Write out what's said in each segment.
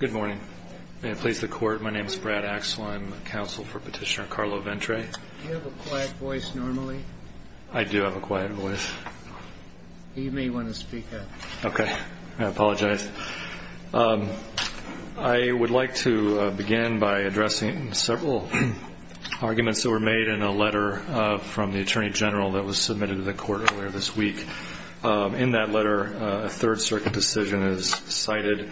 Good morning. May it please the Court, my name is Brad Axel, I'm counsel for Petitioner Carlo Ventre. Do you have a quiet voice normally? I do have a quiet voice. You may want to speak up. Okay, I apologize. I would like to begin by addressing several arguments that were made in a letter from the Attorney General that was submitted to the Court earlier this week. In that letter, a Third Circuit decision is cited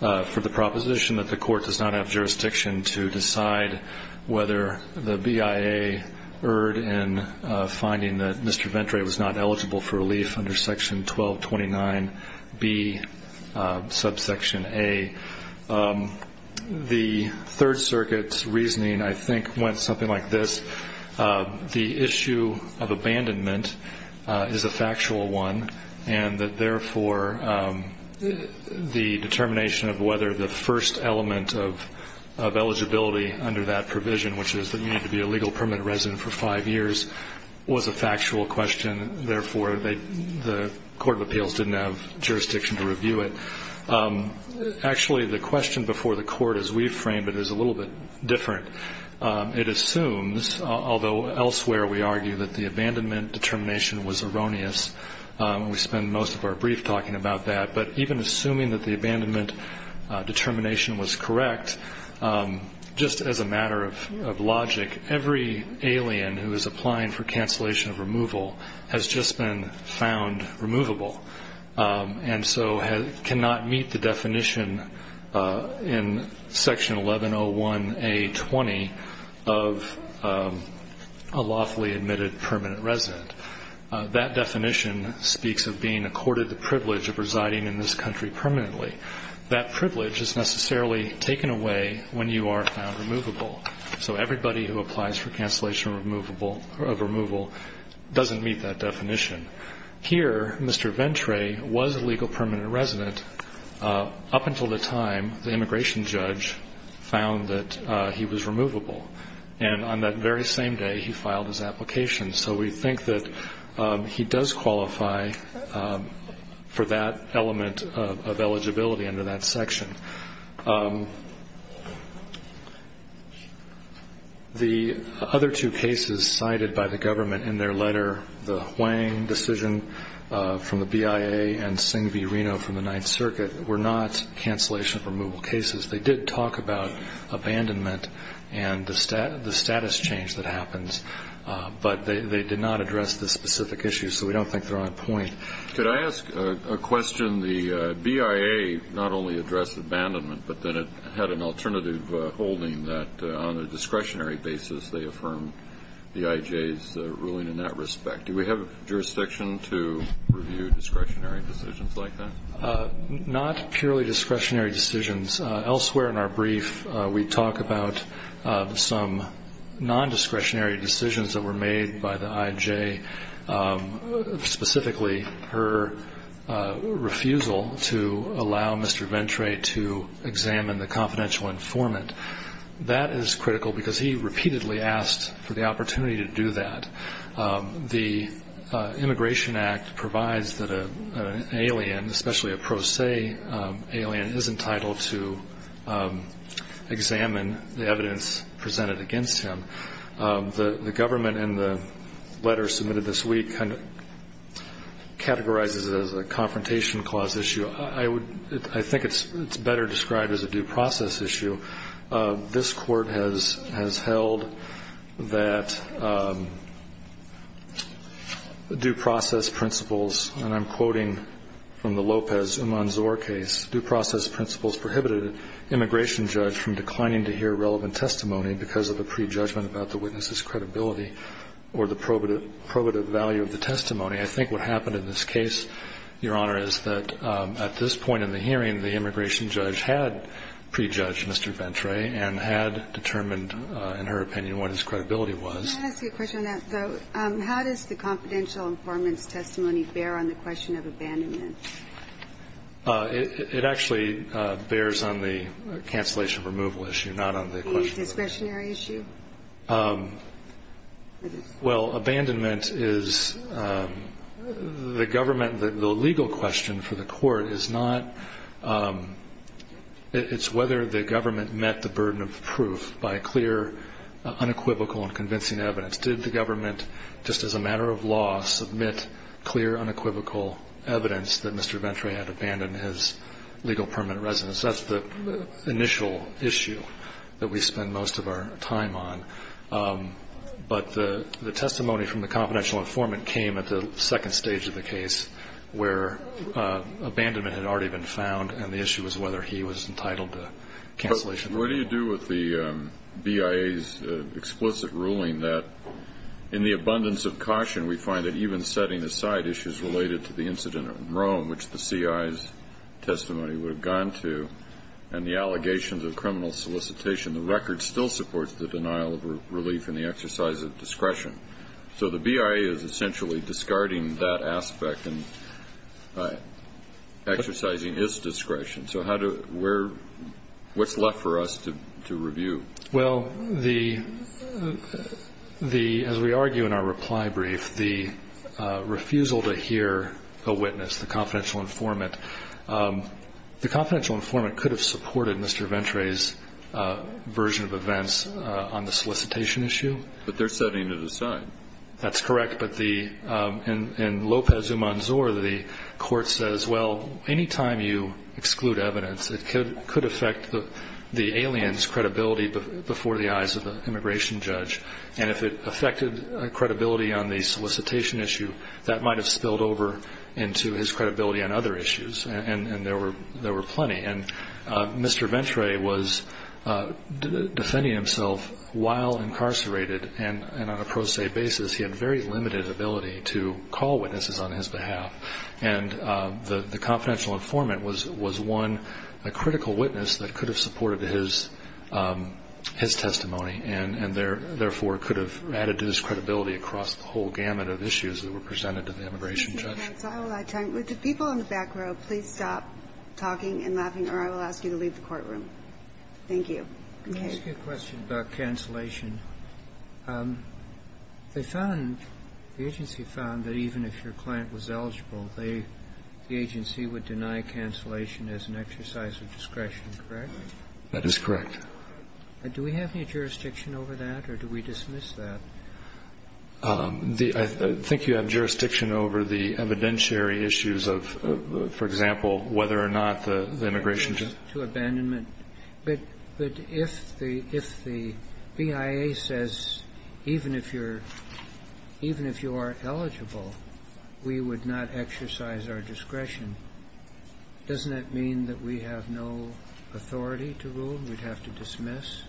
for the proposition that the Court does not have jurisdiction to decide whether the BIA erred in finding that Mr. Ventre was not eligible for relief under Section 1229b, subsection a. The Third Circuit's reasoning, I think, went something like this. The issue of abandonment is a factual one, and that, therefore, the determination of whether the first element of eligibility under that provision, which is that you need to be a legal permanent resident for five years, was a factual question. Therefore, the Court of Appeals didn't have jurisdiction to review it. Actually, the question before the Court, as we framed it, is a little bit different. It assumes, although elsewhere we argue that the abandonment determination was erroneous, and we spend most of our brief talking about that, but even assuming that the abandonment determination was correct, just as a matter of logic, every alien who is applying for cancellation of removal has just been found removable and so cannot meet the definition in Section 1101a.20 of a lawfully admitted permanent resident. That definition speaks of being accorded the privilege of residing in this country permanently. That privilege is necessarily taken away when you are found removable. So everybody who applies for cancellation of removal doesn't meet that definition. Here, Mr. Ventrae was a legal permanent resident up until the time the immigration judge found that he was removable. And on that very same day, he filed his application. So we think that he does qualify for that element of eligibility under that section. The other two cases cited by the government in their letter, the Huang decision from the BIA and Singh v. Reno from the Ninth Circuit, were not cancellation of removal cases. They did talk about abandonment and the status change that happens, but they did not address the specific issues, so we don't think they're on point. Could I ask a question? The BIA not only addressed abandonment, but then it had an alternative holding that on a discretionary basis they affirmed the IJ's ruling in that respect. Do we have jurisdiction to review discretionary decisions like that? Not purely discretionary decisions. Elsewhere in our brief, we talk about some non-discretionary decisions that were made by the IJ, specifically her refusal to allow Mr. Ventrae to examine the confidential informant. That is critical because he repeatedly asked for the opportunity to do that. The Immigration Act provides that an alien, especially a pro se alien, is entitled to examine the evidence presented against him. The government in the letter submitted this week categorizes it as a confrontation clause issue. I think it's better described as a due process issue. This Court has held that due process principles, and I'm quoting from the Lopez-Umanzor case, due process principles prohibited an immigration judge from declining to hear relevant testimony because of a prejudgment about the witness's credibility or the probative value of the testimony. I think what happened in this case, Your Honor, is that at this point in the hearing, the immigration judge had prejudged Mr. Ventrae and had determined, in her opinion, what his credibility was. Can I ask you a question on that, though? How does the confidential informant's testimony bear on the question of abandonment? It actually bears on the cancellation removal issue, not on the question of abandonment. The discretionary issue? Well, abandonment is the government, the legal question for the court is not, it's whether the government met the burden of proof by clear, unequivocal, and convincing evidence. Did the government, just as a matter of law, submit clear, unequivocal evidence that Mr. Ventrae had abandoned his legal permanent residence? That's the initial issue that we spend most of our time on. But the testimony from the confidential informant came at the second stage of the case, where abandonment had already been found and the issue was whether he was entitled to cancellation. What do you do with the BIA's explicit ruling that, in the abundance of caution, we find that even setting aside issues related to the incident in Rome, which the CIA's testimony would have gone to, and the allegations of criminal solicitation, the record still supports the denial of relief and the exercise of discretion. So the BIA is essentially discarding that aspect and exercising its discretion. So how do we're ñ what's left for us to review? Well, the ñ as we argue in our reply brief, the refusal to hear a witness, the confidential informant, the confidential informant could have supported Mr. Ventrae's version of events on the solicitation issue. But they're setting it aside. That's correct. But the ñ in Lopez-Umanzor, the court says, well, any time you exclude evidence, it could affect the alien's credibility before the eyes of the immigration judge. And if it affected credibility on the solicitation issue, that might have spilled over into his credibility on other issues. And there were plenty. And Mr. Ventrae was defending himself while incarcerated. And on a pro se basis, he had very limited ability to call witnesses on his behalf. And the confidential informant was one ñ a critical witness that could have supported his testimony and therefore could have added to his credibility across the whole gamut of issues that were presented to the immigration judge. If people in the back row, please stop talking and laughing, or I will ask you to leave the courtroom. Thank you. Let me ask you a question about cancellation. They found ñ the agency found that even if your client was eligible, they ñ the agency would deny cancellation as an exercise of discretion, correct? That is correct. Do we have any jurisdiction over that, or do we dismiss that? The ñ I think you have jurisdiction over the evidentiary issues of, for example, whether or not the immigration judge ñ To abandonment. But if the ñ if the BIA says even if you're ñ even if you are eligible, we would not exercise our discretion, doesn't that mean that we have no authority to rule and we'd have to dismiss?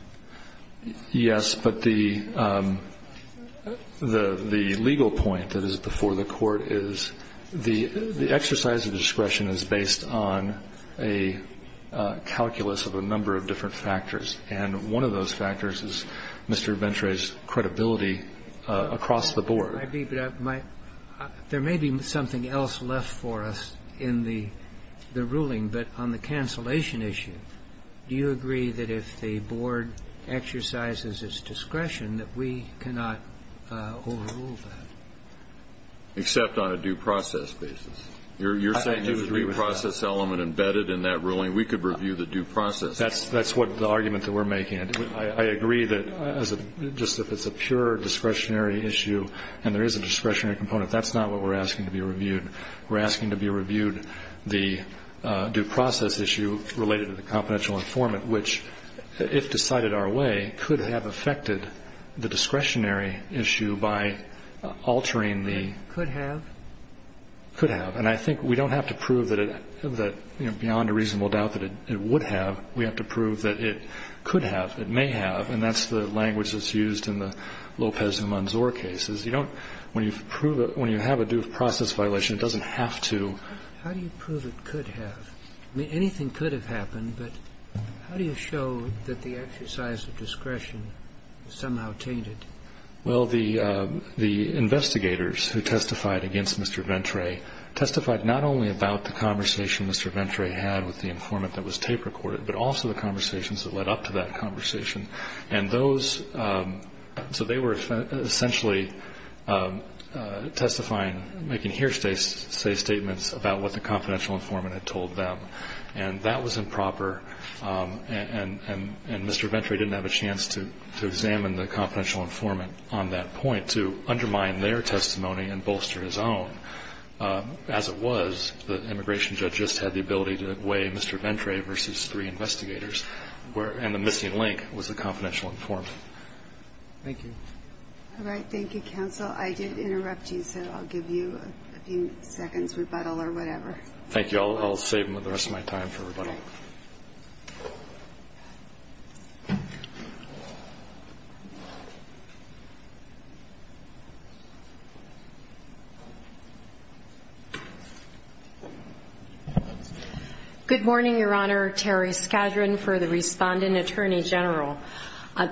Yes. But the ñ the legal point that is before the Court is the exercise of discretion is based on a calculus of a number of different factors, and one of those factors is Mr. Ventura's credibility across the board. I agree, but my ñ there may be something else left for us in the ruling, but on the cancellation issue, do you agree that if the board exercises its discretion that we cannot overrule that? Except on a due process basis. You're saying there would be a process element embedded in that ruling. We could review the due process. That's ñ that's what the argument that we're making. I agree that as a ñ just if it's a pure discretionary issue and there is a discretionary component, that's not what we're asking to be reviewed. We're asking to be reviewed the due process issue related to the confidential informant, which, if decided our way, could have affected the discretionary issue by altering the ñ Could have? Could have. And I think we don't have to prove that it ñ that, you know, beyond a reasonable doubt that it would have. We have to prove that it could have, it may have, and that's the language that's used in the Lopez and Manzor cases. You don't ñ when you prove a ñ when you have a due process violation, it doesn't have to. How do you prove it could have? I mean, anything could have happened, but how do you show that the exercise of discretion is somehow tainted? Well, the ñ the investigators who testified against Mr. Ventre testified not only about the conversation Mr. Ventre had with the informant that was tape recorded, but also the conversations that led up to that conversation. And those ñ so they were essentially testifying, making hearsay statements about what the confidential informant had told them. And that was improper, and Mr. Ventre didn't have a chance to examine the confidential informant on that point, to undermine their testimony and bolster his own. As it was, the immigration judge just had the ability to weigh Mr. Ventre versus three investigators, where ñ and the missing link was the confidential informant. Thank you. All right. Thank you, counsel. I did interrupt you, so I'll give you a few seconds rebuttal or whatever. Thank you. I'll ñ I'll save the rest of my time for rebuttal. Okay. Good morning, Your Honor. Terry Skadron for the Respondent Attorney General.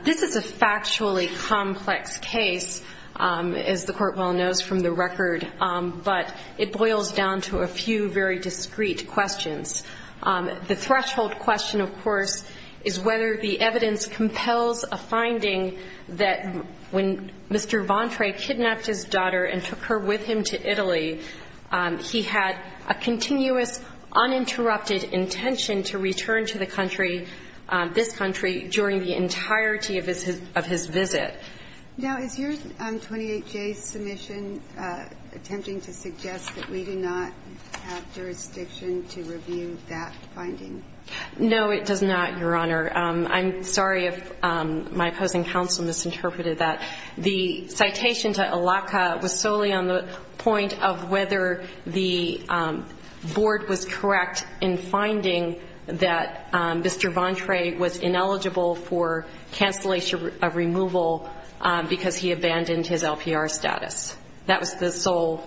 This is a factually complex case, as the Court well knows from the record, but it boils down to a few very discreet questions. The threshold question, of course, is whether the evidence compels a finding that when Mr. Ventre kidnapped his daughter and took her with him to Italy, he had a continuous, uninterrupted intention to return to the country, this country, during the entirety of his ñ of his visit. Now, is your 28J submission attempting to suggest that we do not have jurisdiction to review that finding? No, it does not, Your Honor. I'm sorry if my opposing counsel misinterpreted that. The citation to Allaka was solely on the point of whether the board was correct in finding that Mr. Ventre was ineligible for cancellation of removal because he abandoned his LPR status. That was the sole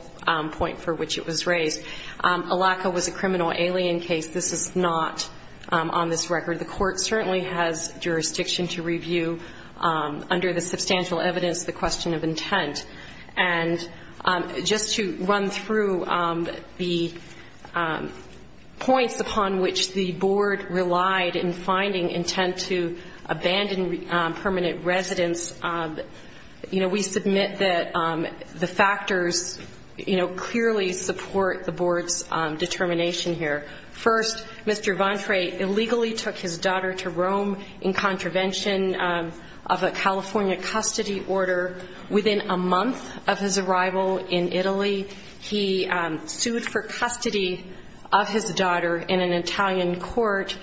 point for which it was raised. Allaka was a criminal alien case. This is not on this record. The Court certainly has jurisdiction to review, under the substantial evidence, the question of intent. And just to run through the points upon which the board relied in finding intent to abandon permanent residence, you know, we submit that the factors, you know, clearly support the board's determination here. First, Mr. Ventre illegally took his daughter to Rome in contravention of a California custody order. Within a month of his arrival in Italy, he sued for custody of his daughter in an Italian court.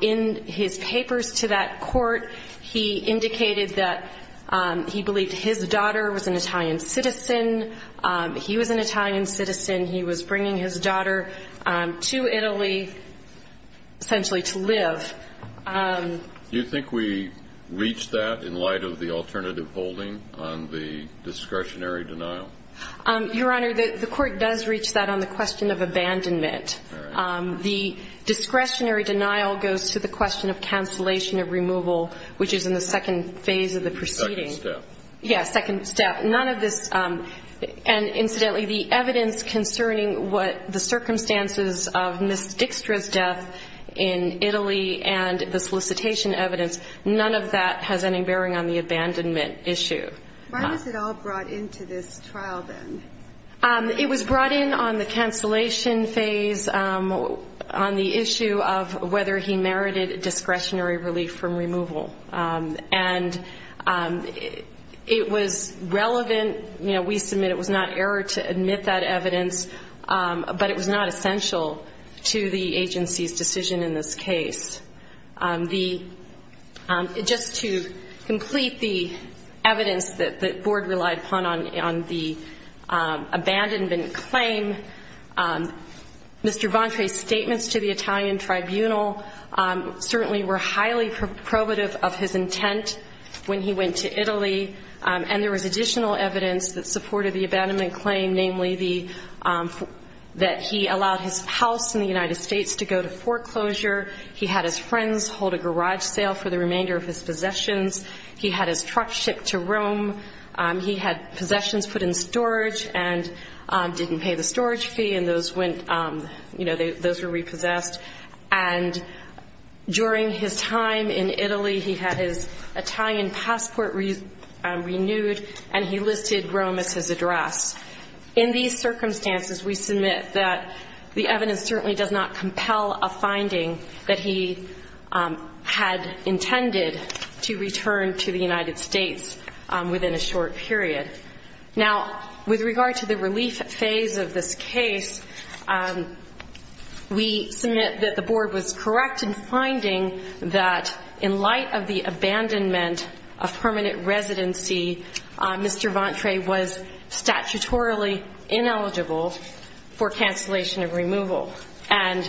In his papers to that court, he indicated that he believed his daughter was an Italian citizen. He was an Italian citizen. He was bringing his daughter to Italy essentially to live. Do you think we reach that in light of the alternative holding on the discretionary denial? Your Honor, the Court does reach that on the question of abandonment. All right. The discretionary denial goes to the question of cancellation of removal, which is in the second phase of the proceeding. Second step. Yes, second step. None of this, and incidentally, the evidence concerning what the circumstances of Ms. Dixtra's death in Italy and the solicitation evidence, none of that has any bearing on the abandonment issue. Why was it all brought into this trial then? It was brought in on the cancellation phase on the issue of whether he merited discretionary relief from removal. And it was relevant. You know, we submit it was not error to admit that evidence, but it was not essential to the agency's decision in this case. Just to complete the evidence that the Board relied upon on the abandonment claim, Mr. Ventre's statements to the Italian tribunal certainly were highly probative of his intent when he went to Italy. And there was additional evidence that supported the abandonment claim, namely that he allowed his house in the United States to go to foreclosure. He had his friends hold a garage sale for the remainder of his possessions. He had his truck shipped to Rome. He had possessions put in storage and didn't pay the storage fee, and those went, you know, those were repossessed. And during his time in Italy, he had his Italian passport renewed, and he listed Rome as his address. In these circumstances, we submit that the evidence certainly does not compel a finding that he had intended to return to the United States within a short period. Now, with regard to the relief phase of this case, we submit that the Board was correct in finding that in light of the abandonment of permanent residency, Mr. Ventre was statutorily ineligible for cancellation of removal. And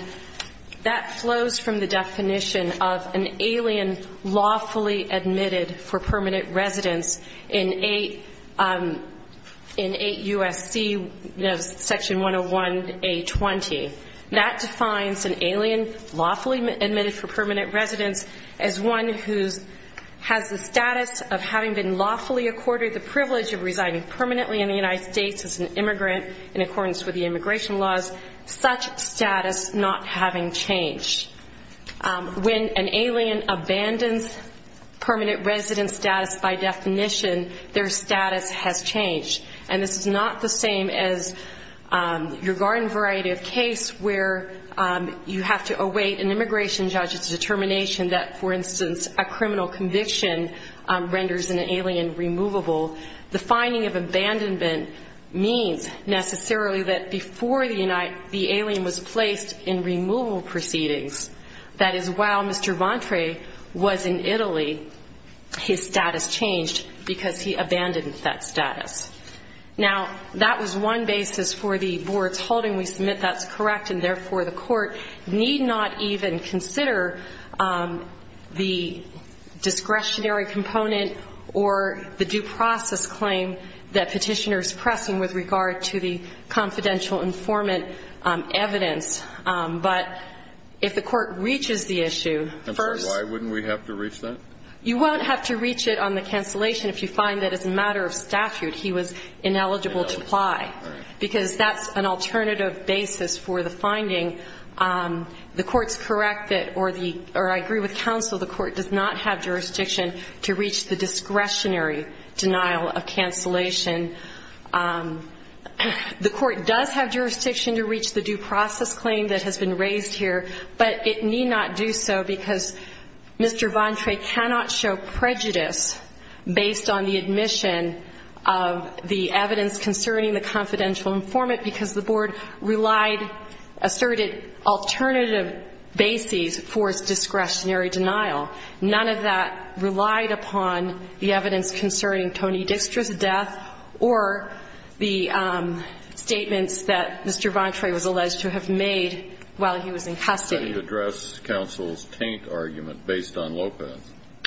that flows from the definition of an alien lawfully admitted for permanent residence in 8 U.S.C., you know, Section 101A20. That defines an alien lawfully admitted for permanent residence as one who has the status of having been lawfully accorded the privilege of residing permanently in the United States as an immigrant in accordance with the immigration laws, such status not having changed. When an alien abandons permanent residence status by definition, their status has changed. And this is not the same as your garden variety of case where you have to await an immigration judge's determination that, for instance, a criminal conviction renders an alien removable. The finding of abandonment means necessarily that before the alien was placed in removal proceedings, that is, while Mr. Ventre was in Italy, his status changed because he abandoned that status. Now, that was one basis for the Board's holding. We submit that's correct and, therefore, the Court need not even consider the discretionary component or the due process claim that Petitioner is pressing with regard to the confidential informant evidence. But if the Court reaches the issue, first — I'm sorry. Why wouldn't we have to reach that? You won't have to reach it on the cancellation if you find that as a matter of statute he was ineligible to apply, because that's an alternative basis for the finding. The Court's correct that, or I agree with counsel, the Court does not have jurisdiction to reach the due process claim that has been raised here, but it need not do so because Mr. Ventre cannot show prejudice based on the admission of the evidence concerning the confidential informant because the Board relied, asserted alternative bases for its discretionary denial. None of that relied upon the evidence concerning Tony Dixter's death or the statements that Mr. Ventre was alleged to have made while he was in custody. I didn't address counsel's taint argument based on Lopez.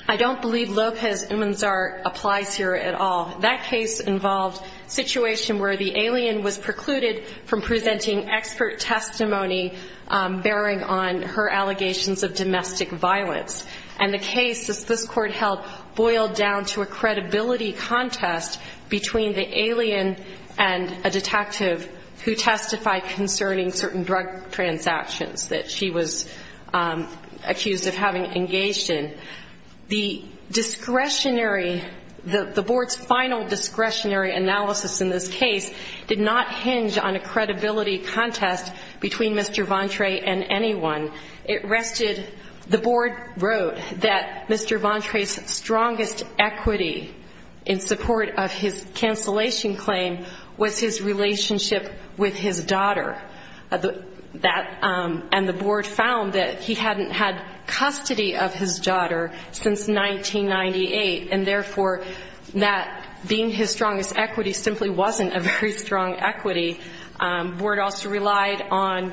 I don't believe Lopez-Umanzar applies here at all. That case involved a situation where the alien was precluded from presenting expert testimony bearing on her allegations of domestic violence. And the case, as this Court held, boiled down to a credibility contest between the alien and a detective who testified concerning certain drug transactions that she was accused of having engaged in. The discretionary, the Board's final discretionary analysis in this case did not hinge on a credibility contest between Mr. Ventre and anyone. It rested, the Board wrote that Mr. Ventre's strongest equity in support of his cancellation claim was his relationship with his daughter. That, and the Board found that he hadn't had custody of his daughter since 1998, and therefore, that being his strongest equity simply wasn't a very strong equity. The Board also relied on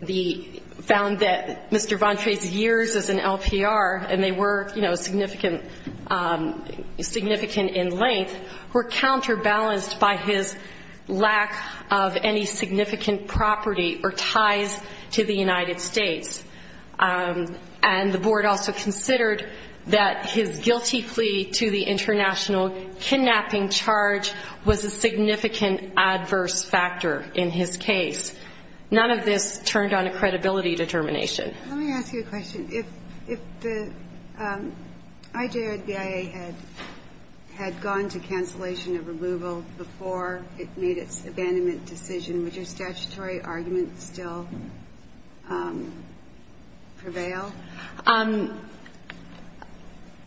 the, found that Mr. Ventre's years as an LPR, and they were, you know, significant in length, were counterbalanced by his lack of any significant property or ties to the United States. And the Board also considered that his guilty plea to the international kidnapping charge was a significant adverse factor in his case. None of this turned on a credibility determination. Let me ask you a question. If the IJRBIA had gone to cancellation of removal before it made its abandonment decision, would your statutory argument still prevail?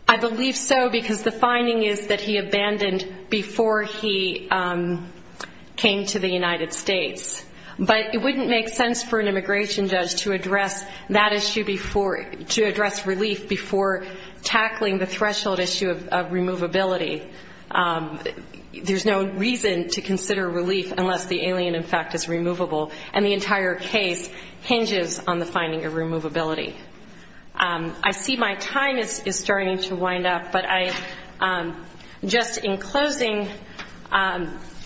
I believe so, because the finding is that he abandoned before he came to the United States. But it wouldn't make sense for an immigration judge to address that issue before, to address relief before tackling the threshold issue of removability. There's no reason to consider relief unless the alien, in fact, is removable. And the entire case hinges on the finding of removability. I see my time is starting to wind up, but I, just in closing,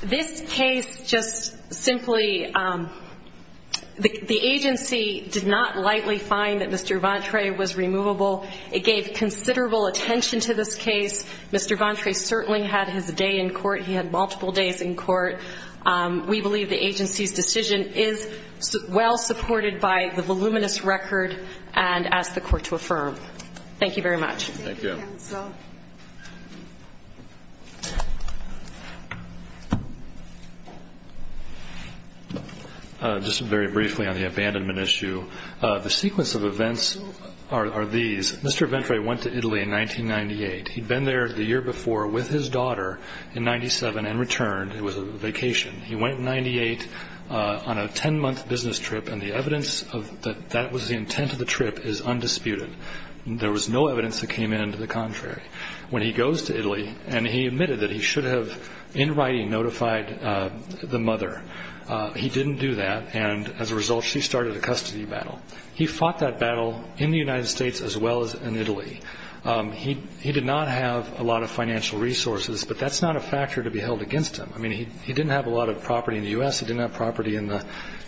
this case just simply, the agency did not lightly find that Mr. Ventre was removable. It gave considerable attention to this case. Mr. Ventre certainly had his day in court. He had multiple days in court. We believe the agency's decision is well supported by the voluminous record and ask the court to affirm. Thank you very much. Just very briefly on the abandonment issue. The sequence of events are these. Mr. Ventre went to Italy in 1998. He'd been there the year before with his daughter in 1997 and returned. It was a vacation. He went in 1998 on a 10-month business trip, and the evidence that that was the intent of the trip is undisputed. There was no evidence that came in to the contrary. When he goes to Italy, and he admitted that he should have, in writing, notified the mother. He didn't do that, and as a result, she started a custody battle. He fought that battle in the United States as well as in Italy. He did not have a lot of financial resources, but that's not a factor to be held against him. I mean, he didn't have a lot of property in the U.S. He didn't have property in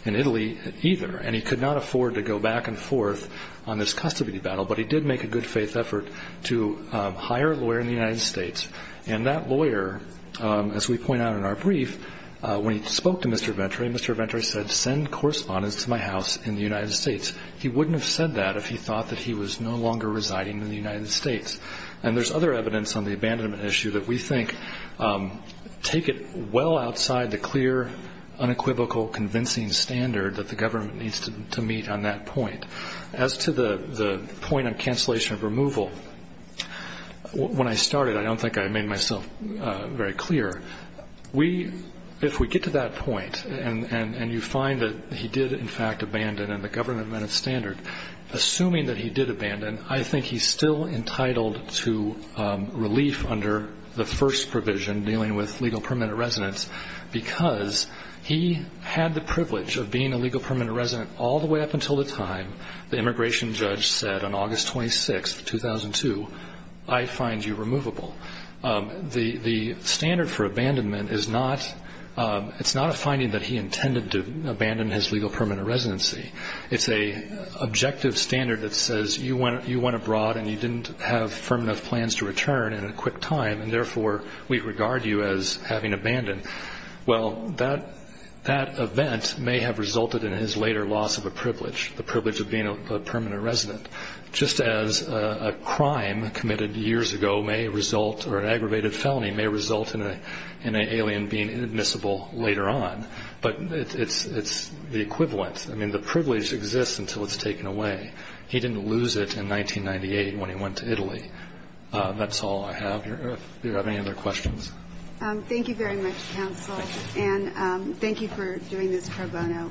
Italy either, and he could not afford to go back and forth on this custody battle, but he did make a good-faith effort to hire a lawyer in the United States. And that lawyer, as we point out in our brief, when he spoke to Mr. Ventre, Mr. Ventre said, send correspondents to my house in the United States. He wouldn't have said that if he thought that he was no longer residing in the United States. And there's other evidence on the abandonment issue that we think take it well outside the clear, unequivocal, convincing standard that the government needs to meet on that point. As to the point on cancellation of removal, when I started, I don't think I made myself very clear. If we get to that point and you find that he did, in fact, abandon and the government met its standard, assuming that he did abandon, I think he's still entitled to relief under the first provision, dealing with legal permanent residence, because he had the privilege of being a legal permanent resident all the way up until the time the immigration judge said on August 26, 2002, I find you removable. The standard for abandonment is not a finding that he intended to abandon his legal permanent residency. It's an objective standard that says you went abroad and you didn't have firm enough plans to return in a quick time, and therefore we regard you as having abandoned. Well, that event may have resulted in his later loss of a privilege, the privilege of being a permanent resident, just as a crime committed years ago may result, or an aggravated felony may result in an alien being inadmissible later on. But it's the equivalent. I mean, the privilege exists until it's taken away. He didn't lose it in 1998 when he went to Italy. That's all I have. Do you have any other questions? Thank you very much, counsel, and thank you for doing this pro bono.